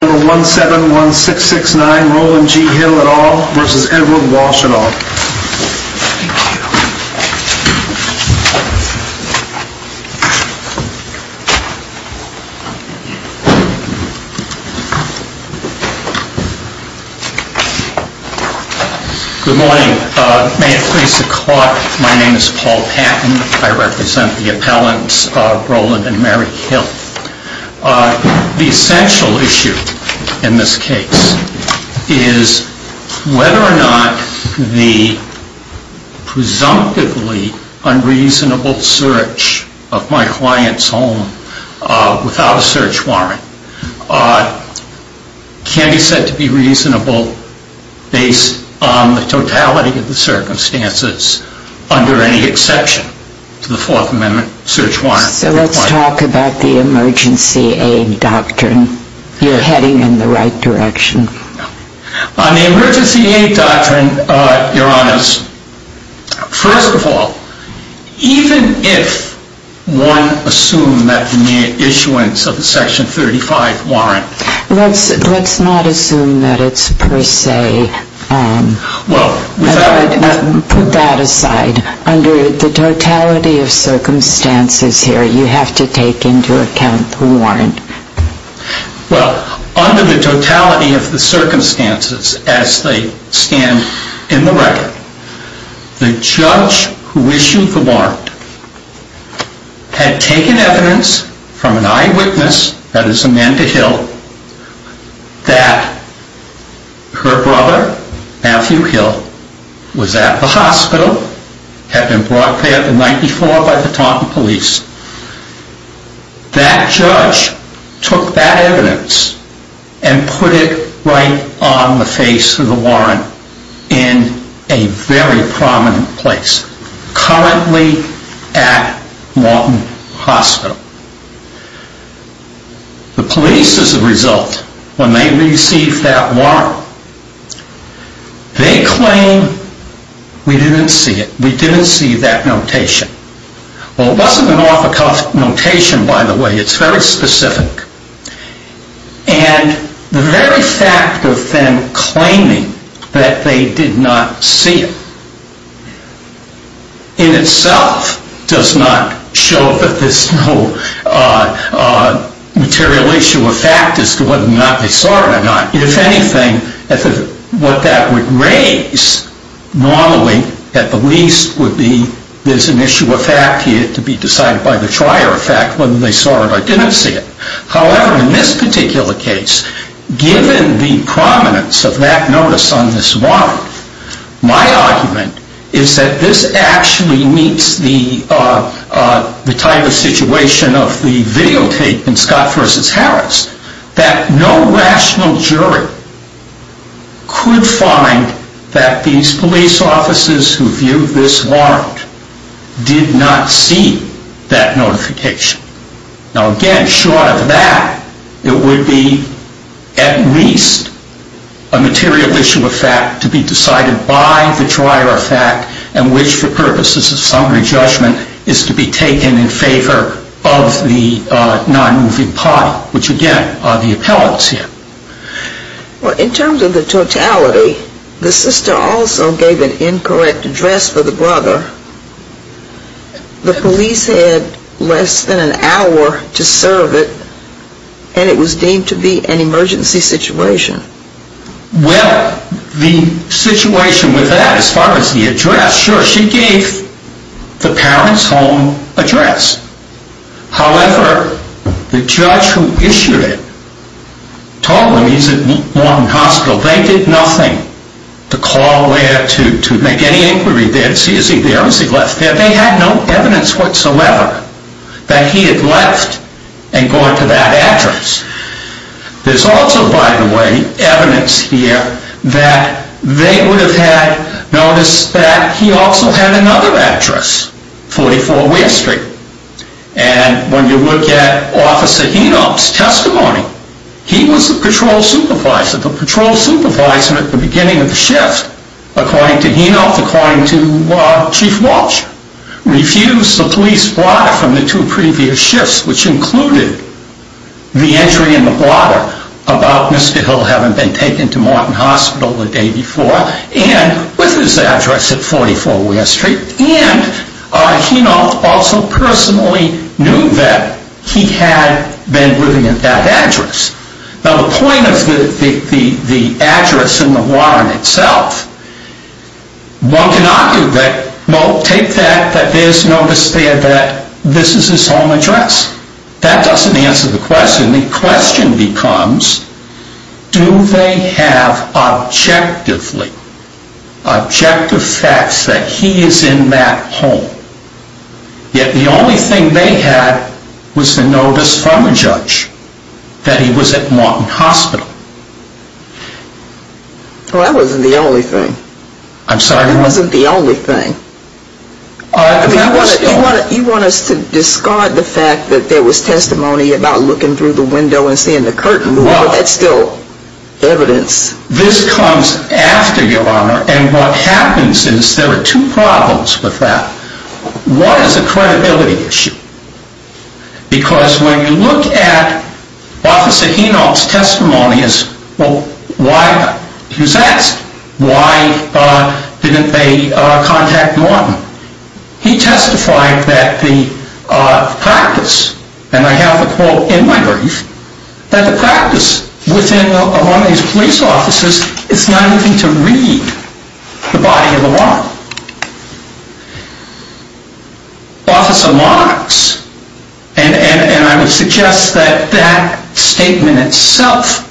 Good morning. May it please the court, my name is Paul Patton. I represent the appellants Mary Hill. The essential issue in this case is whether or not the presumptively unreasonable search of my client's home without a search warrant can be said to be reasonable based on the totality of the circumstances under any exception to the Fourth Amendment search warrant. So let's talk about the Emergency Aid Doctrine. You're heading in the right direction. On the Emergency Aid Doctrine, Your Honors, first of all, even if one assumed that the issuance of the Section 35 warrant... Let's not assume that it's per se. Put that in perspective. You have to take into account the warrant. Well, under the totality of the circumstances, as they stand in the record, the judge who issued the warrant had taken evidence from an eyewitness, that is, Amanda Hill, that her brother, Matthew Hill, was at the hospital, had been brought there the night before by the Taunton police. That judge took that evidence and put it right on the face of the warrant in a very prominent place, currently at Lawton Hospital. The police, as a result, when they received that warrant, they claim, we didn't see it. We didn't see that notation. Well, it wasn't an off-the-cuff notation, by the way. It's very specific. And the very fact of them claiming that they did not see it, in itself, does not show that there's no material issue of fact as to whether or not they saw it or not. If anything, what that would raise, normally, at the least, would be there's an issue of fact here to be decided by the trier of fact, whether they saw it or didn't see it. However, in this particular case, given the prominence of that notice on this warrant, my argument is that this actually meets the type of situation of the videotape in Scott v. Harris, that no rational jury could find that these police officers who viewed this warrant did not see that notification. Now, again, short of that, it would be, at least, a material issue of fact to be decided by the trier of fact, and which, for purposes of summary judgment, is to be taken in favor of the non-moving party, which, again, are the appellants here. Well, in terms of the totality, the sister also gave an incorrect address for the brother. The police had less than an hour to serve it, and it was deemed to be an emergency situation. Well, the situation with that, as far as the address, sure, she gave the parent's home address. However, the judge who issued it told them he's at Morton Hospital. They did nothing to call there, to make any inquiry there, to see is he there, is he left there. They had no evidence whatsoever that he had left and gone to that address. There's also, by the way, evidence here that they would have had noticed that he also had another address, 44 Weir Street, and when you look at Officer Henoch's testimony, he was the patrol supervisor at the beginning of the shift, according to Henoch, according to Chief Walsh, refused the police brother from the two previous shifts, which included the entry in the brother about Mr. Hill having been taken to Morton Hospital the day before, and with his address at 44 Weir Street, and Henoch also personally knew that he had been living at that address. Now, the point of the address in the warrant itself, one cannot do that, no, take that, that there's notice there that this is his home address. That doesn't answer the question. The question becomes, do they have objectively, objective facts that he is in that home? Yet the only thing they had was the notice from a judge that he was at Morton Hospital. Well, that wasn't the only thing. I'm sorry? That wasn't the only thing. You want us to discard the fact that there was testimony about looking through the window and seeing the curtain, but that's still evidence. This comes after, Your Honor, and what happens is there are two problems with that. One is the credibility issue, because when you look at Officer Henoch's testimony as, well, why was he asked? Why didn't they contact Morton? He testified that the practice, and I have a quote in my brief, that the practice within one of these police offices is not even to read the body of the warrant. Officer Marks, and I would suggest that that statement itself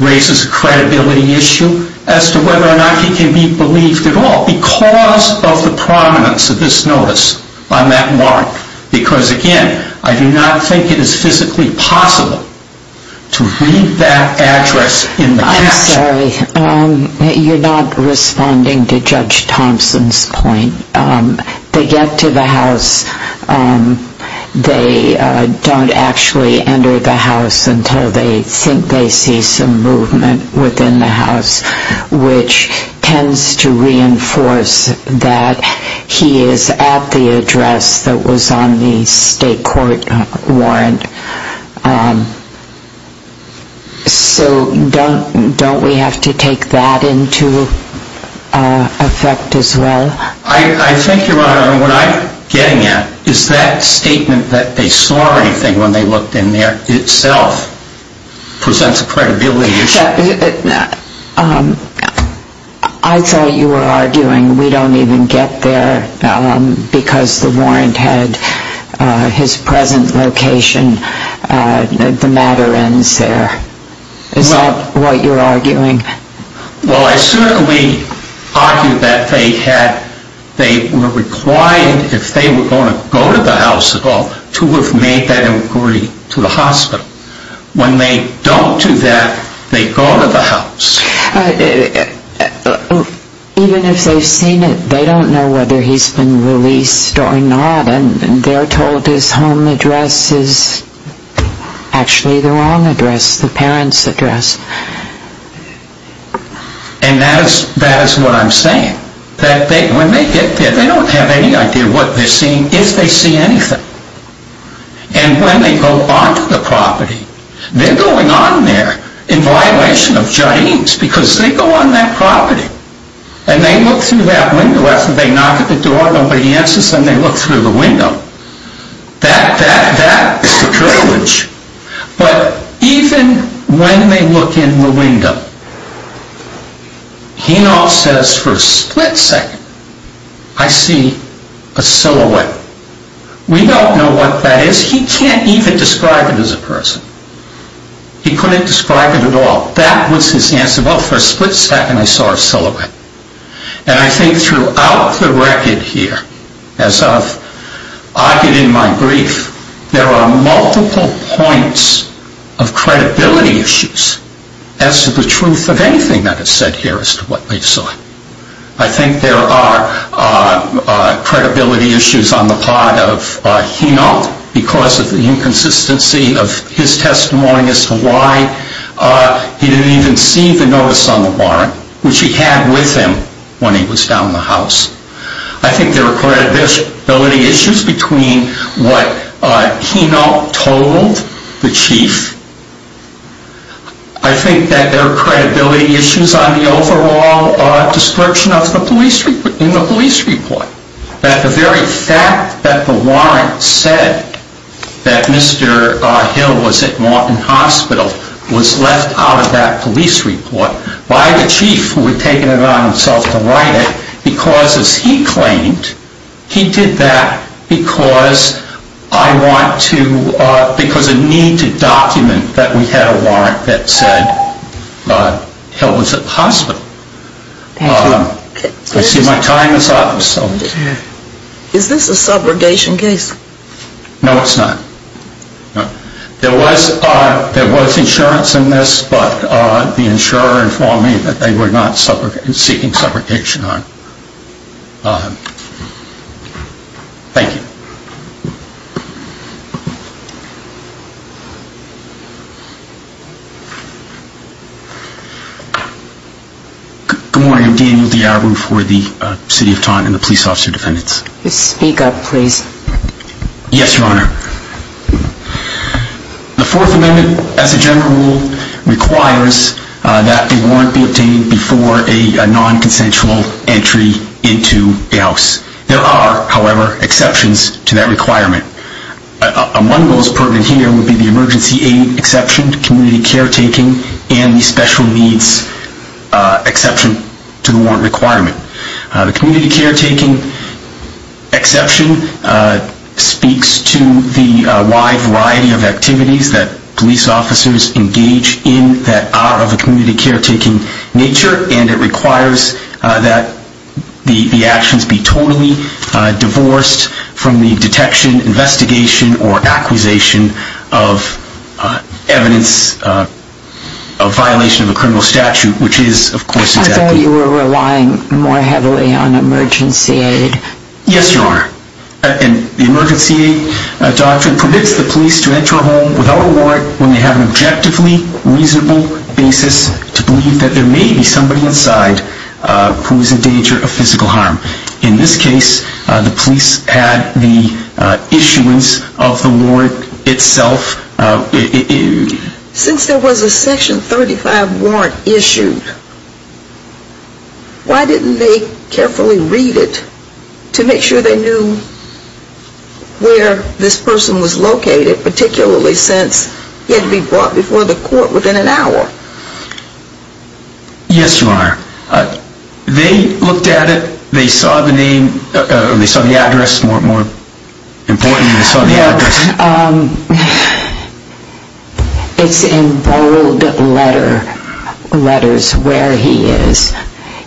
raises a credibility issue as to whether or not he can be believed at all, because of the prominence of this notice on that warrant. Because, again, I do not think it is physically possible to read that address in the caption. Sorry. You're not responding to Judge Thompson's point. They get to the house. They don't actually enter the house until they think they see some movement within the house, which tends to reinforce that he is at the address that was on the state court warrant. So don't we have to take that into effect as well? I think, Your Honor, what I'm getting at is that statement that they saw anything when they looked in there itself presents a credibility issue. I thought you were arguing we don't even get there because the warrant had his present location. The matter ends there. Is that what you're arguing? Well, I certainly argue that they were required, if they were going to go to the house at all, to have made that inquiry to the hospital. When they don't do that, they go to the house. Even if they've seen it, they don't know whether he's been released or not, and they're told his home address is actually the wrong address, the parent's address. And that is what I'm saying, that when they get there, they don't have any idea what they're seeing. They don't see anything. And when they go on to the property, they're going on there in violation of Jareem's, because they go on that property, and they look through that window after they knock at the door, nobody answers, and they look through the window. That, that, that is the privilege. But even when they look in the window, he now says, for a split second, I see a silhouette. We don't know what that is. He can't even describe it as a person. He couldn't describe it at all. That was his answer. Well, for a split second, I saw a silhouette. And I think throughout the record here, as I've argued in my brief, there are multiple points of credibility issues as to the truth of anything that is said here as to what they saw. I think there are credibility issues on the part of Hinolt, because of the inconsistency of his testimony as to why he didn't even see the notice on the warrant, which he had with him when he was down the house. I think there are credibility issues between what Hinolt, the chief, I think that there are credibility issues on the overall description of the police report, in the police report. That the very fact that the warrant said that Mr. Hill was at Martin Hospital was left out of that police report by the chief, who had a warrant that said that Mr. Hill was at the hospital. I see my time is up. Is this a subrogation case? No, it's not. There was insurance in this, but the insurer informed me that they were not seeking subrogation on it. Thank you. Good morning, I'm Daniel Diabro for the City of Taunton and the Police Officer Defendants. Speak up, please. Yes, Your Honor. The Fourth Amendment, as a general rule, requires that a warrant be obtained before a non-consensual entry into a house. There are, however, exceptions to that requirement. Among those permitted here would be the emergency aid exception, community caretaking, and the special needs exception to the warrant requirement. The community caretaking exception speaks to the wide variety of activities that police officers engage in that are of a community caretaking nature, and it requires that the actions be totally divorced from the detection, investigation, or acquisition of evidence of violation of a criminal statute, which is, of course, exactly... I thought you were relying more heavily on emergency aid. Yes, Your Honor. The emergency aid doctrine permits the police to enter a home without a warrant when they have an objectively reasonable basis to believe that there may be somebody inside who is in danger of physical harm. In this case, the police had the issuance of the warrant itself... Since there was a Section 35 warrant issued, why didn't they carefully read it to make sure they knew where this person was located, particularly since he had to be brought before the court within an hour? Yes, Your Honor. They looked at it. They saw the name. They saw the address. More importantly, they saw the address. It's in bold letters where he is.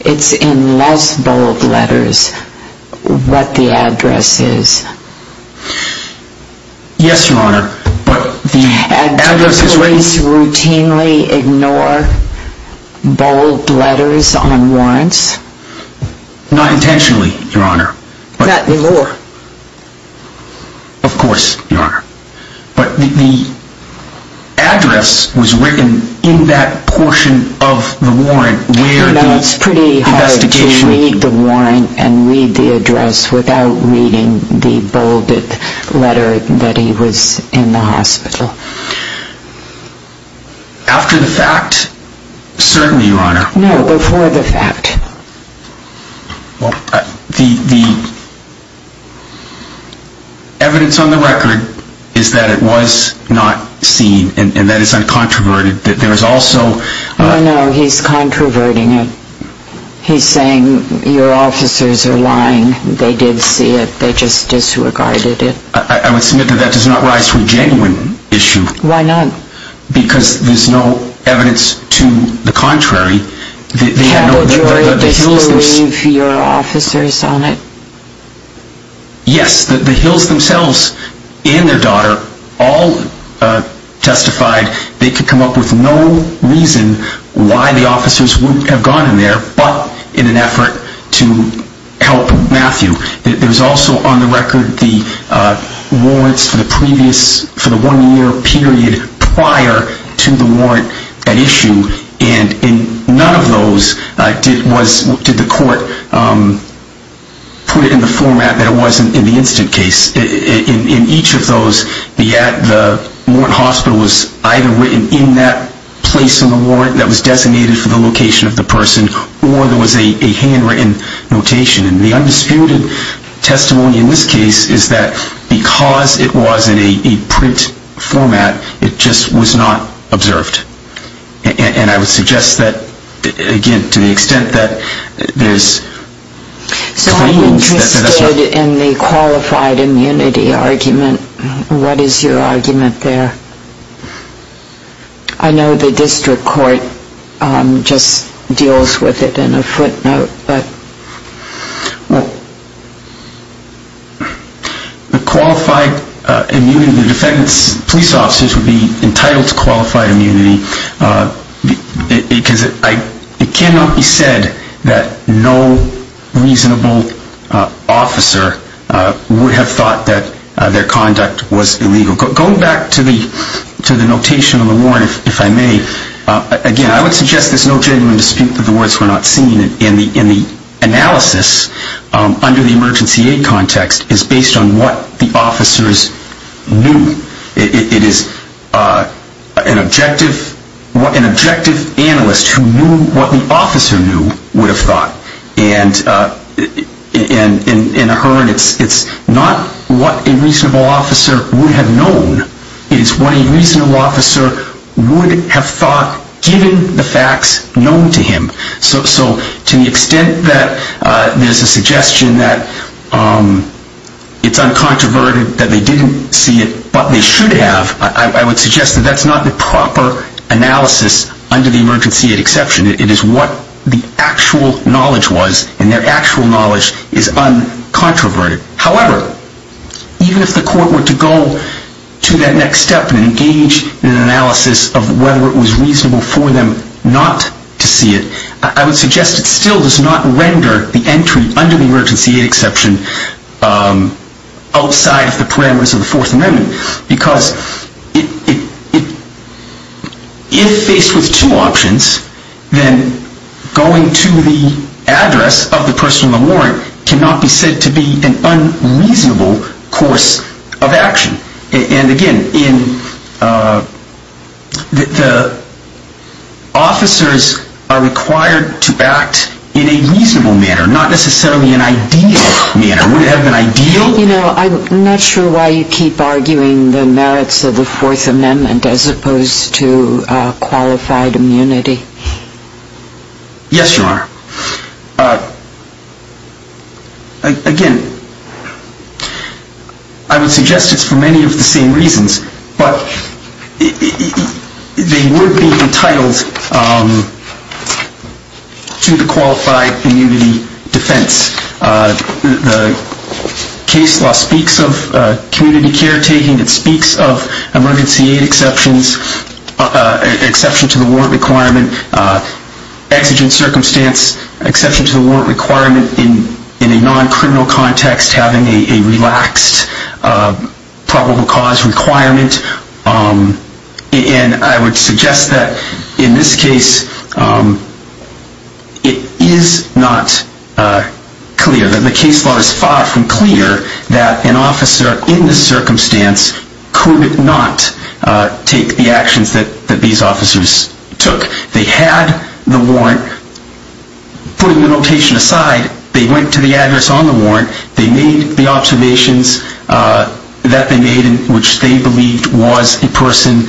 It's in less bold letters what the address is. Yes, Your Honor, but the address is written... Did the police ignore bold letters on warrants? Not intentionally, Your Honor. Not anymore? Of course, Your Honor. But the address was written in that portion of the warrant where the investigation... You know, it's pretty hard to read the warrant and read the address without reading the bolded letter that he was in the hospital. After the fact? Certainly, Your Honor. No, before the fact. Well, the evidence on the record is that it was not seen and that it's uncontroverted. There's also... No, no, he's controverting it. He's saying your officers are lying. They did see it. They just disregarded it. I would submit that that does not rise to a genuine issue. Why not? Because there's no evidence to the contrary. Had the jury disbelieved your officers on it? Yes, the Hills themselves and their daughter all testified they could come up with no reason why the officers wouldn't have gone in there but in an effort to help Matthew. There's also on the record the warrants for the one-year period prior to the warrant at issue. And none of those did the court put in the format that it was in the incident case. In each of those, the warrant hospital was either written in that place in the warrant that was designated for the location of the person or there was a handwritten notation. And the undisputed testimony in this case is that because it was in a print format, it just was not observed. And I would suggest that, again, to the extent that there's... So I'm interested in the qualified immunity argument. What is your argument there? I know the district court just deals with it in a footnote. The qualified immunity of the defendant's police officers would be entitled to qualified immunity because it cannot be said that no reasonable officer would have thought that their conduct was illegal. Going back to the notation of the warrant, if I may, again, I would suggest there's no genuine dispute that the words were not seen. And the analysis under the emergency aid context is based on what the officers knew. It is an objective analyst who knew what the officer knew would have thought. And in a herd, it's not what a reasonable officer would have known. It is what a reasonable officer would have thought given the facts known to him. So to the extent that there's a suggestion that it's uncontroverted, that they didn't see it, but they should have, I would suggest that that's not the proper analysis under the emergency aid exception. It is what the actual knowledge was, and their actual knowledge is uncontroverted. However, even if the court were to go to that next step and engage in an analysis of whether it was reasonable for them not to see it, I would suggest it still does not render the entry under the emergency aid exception outside of the parameters of the Fourth Amendment. Because if faced with two options, then going to the address of the person on the warrant cannot be said to be an unreasonable course of action. And again, the officers are required to act in a reasonable manner, not necessarily an ideal manner. Would it have been ideal? Well, you know, I'm not sure why you keep arguing the merits of the Fourth Amendment as opposed to qualified immunity. Yes, Your Honor. Again, I would suggest it's for many of the same reasons, but they would be entitled to the qualified immunity defense. The case law speaks of community caretaking. It speaks of emergency aid exceptions, exception to the warrant requirement, exigent circumstance, exception to the warrant requirement in a non-criminal context, having a relaxed probable cause requirement. And I would suggest that in this case, it is not clear, that the case law is far from clear that an officer in this circumstance could not take the actions that these officers took. They had the warrant. Putting the notation aside, they went to the address on the warrant. They made the observations that they made in which they believed was a person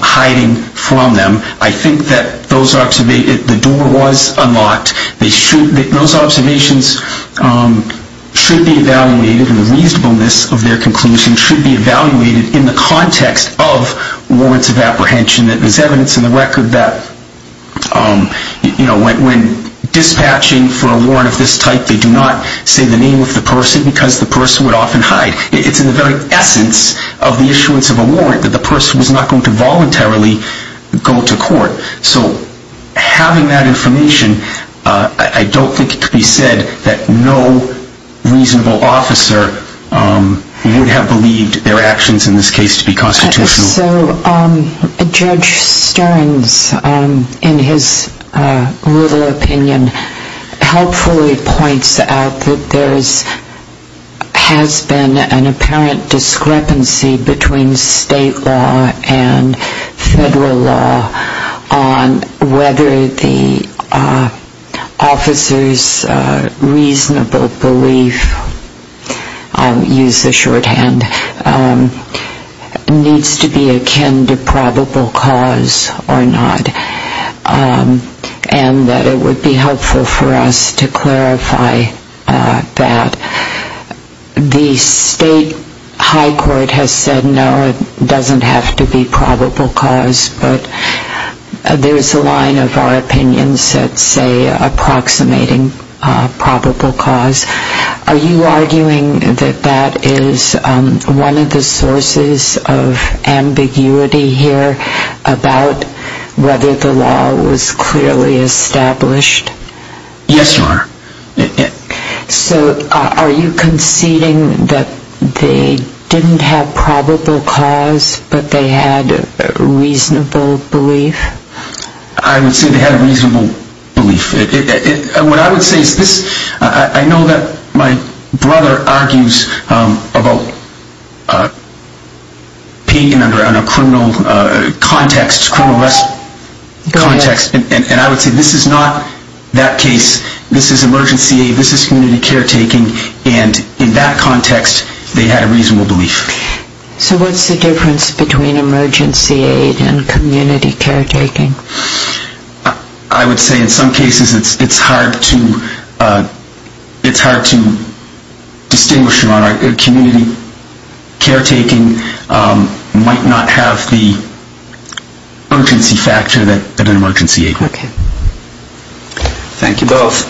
hiding from them. I think that those observations, the door was unlocked. Those observations should be evaluated and the reasonableness of their conclusion should be evaluated in the context of warrants of apprehension. There's evidence in the record that when dispatching for a warrant of this type, they do not say the name of the person because the person would often hide. It's in the very essence of the issuance of a warrant that the person was not going to voluntarily go to court. So having that information, I don't think it could be said that no reasonable officer would have believed their actions in this case to be constitutional. So Judge Stearns, in his little opinion, helpfully points out that there has been an apparent discrepancy between state law and federal law on whether the officer's reasonable belief, I'll use the shorthand, needs to be akin to probable cause or not. And that it would be helpful for us to clarify that. The state high court has said no, it doesn't have to be probable cause, but there's a line of our opinions that say approximating probable cause. Are you arguing that that is one of the sources of ambiguity here about whether the law was clearly established? Yes, Your Honor. So are you conceding that they didn't have probable cause, but they had a reasonable belief? I would say they had a reasonable belief. What I would say is this. I know that my brother argues about paying under a criminal context, criminal arrest context. And I would say this is not that case. This is emergency aid. This is community caretaking. And in that context, they had a reasonable belief. So what's the difference between emergency aid and community caretaking? I would say in some cases it's hard to distinguish, Your Honor. Community caretaking might not have the urgency factor that an emergency aid would. Okay. Thank you both.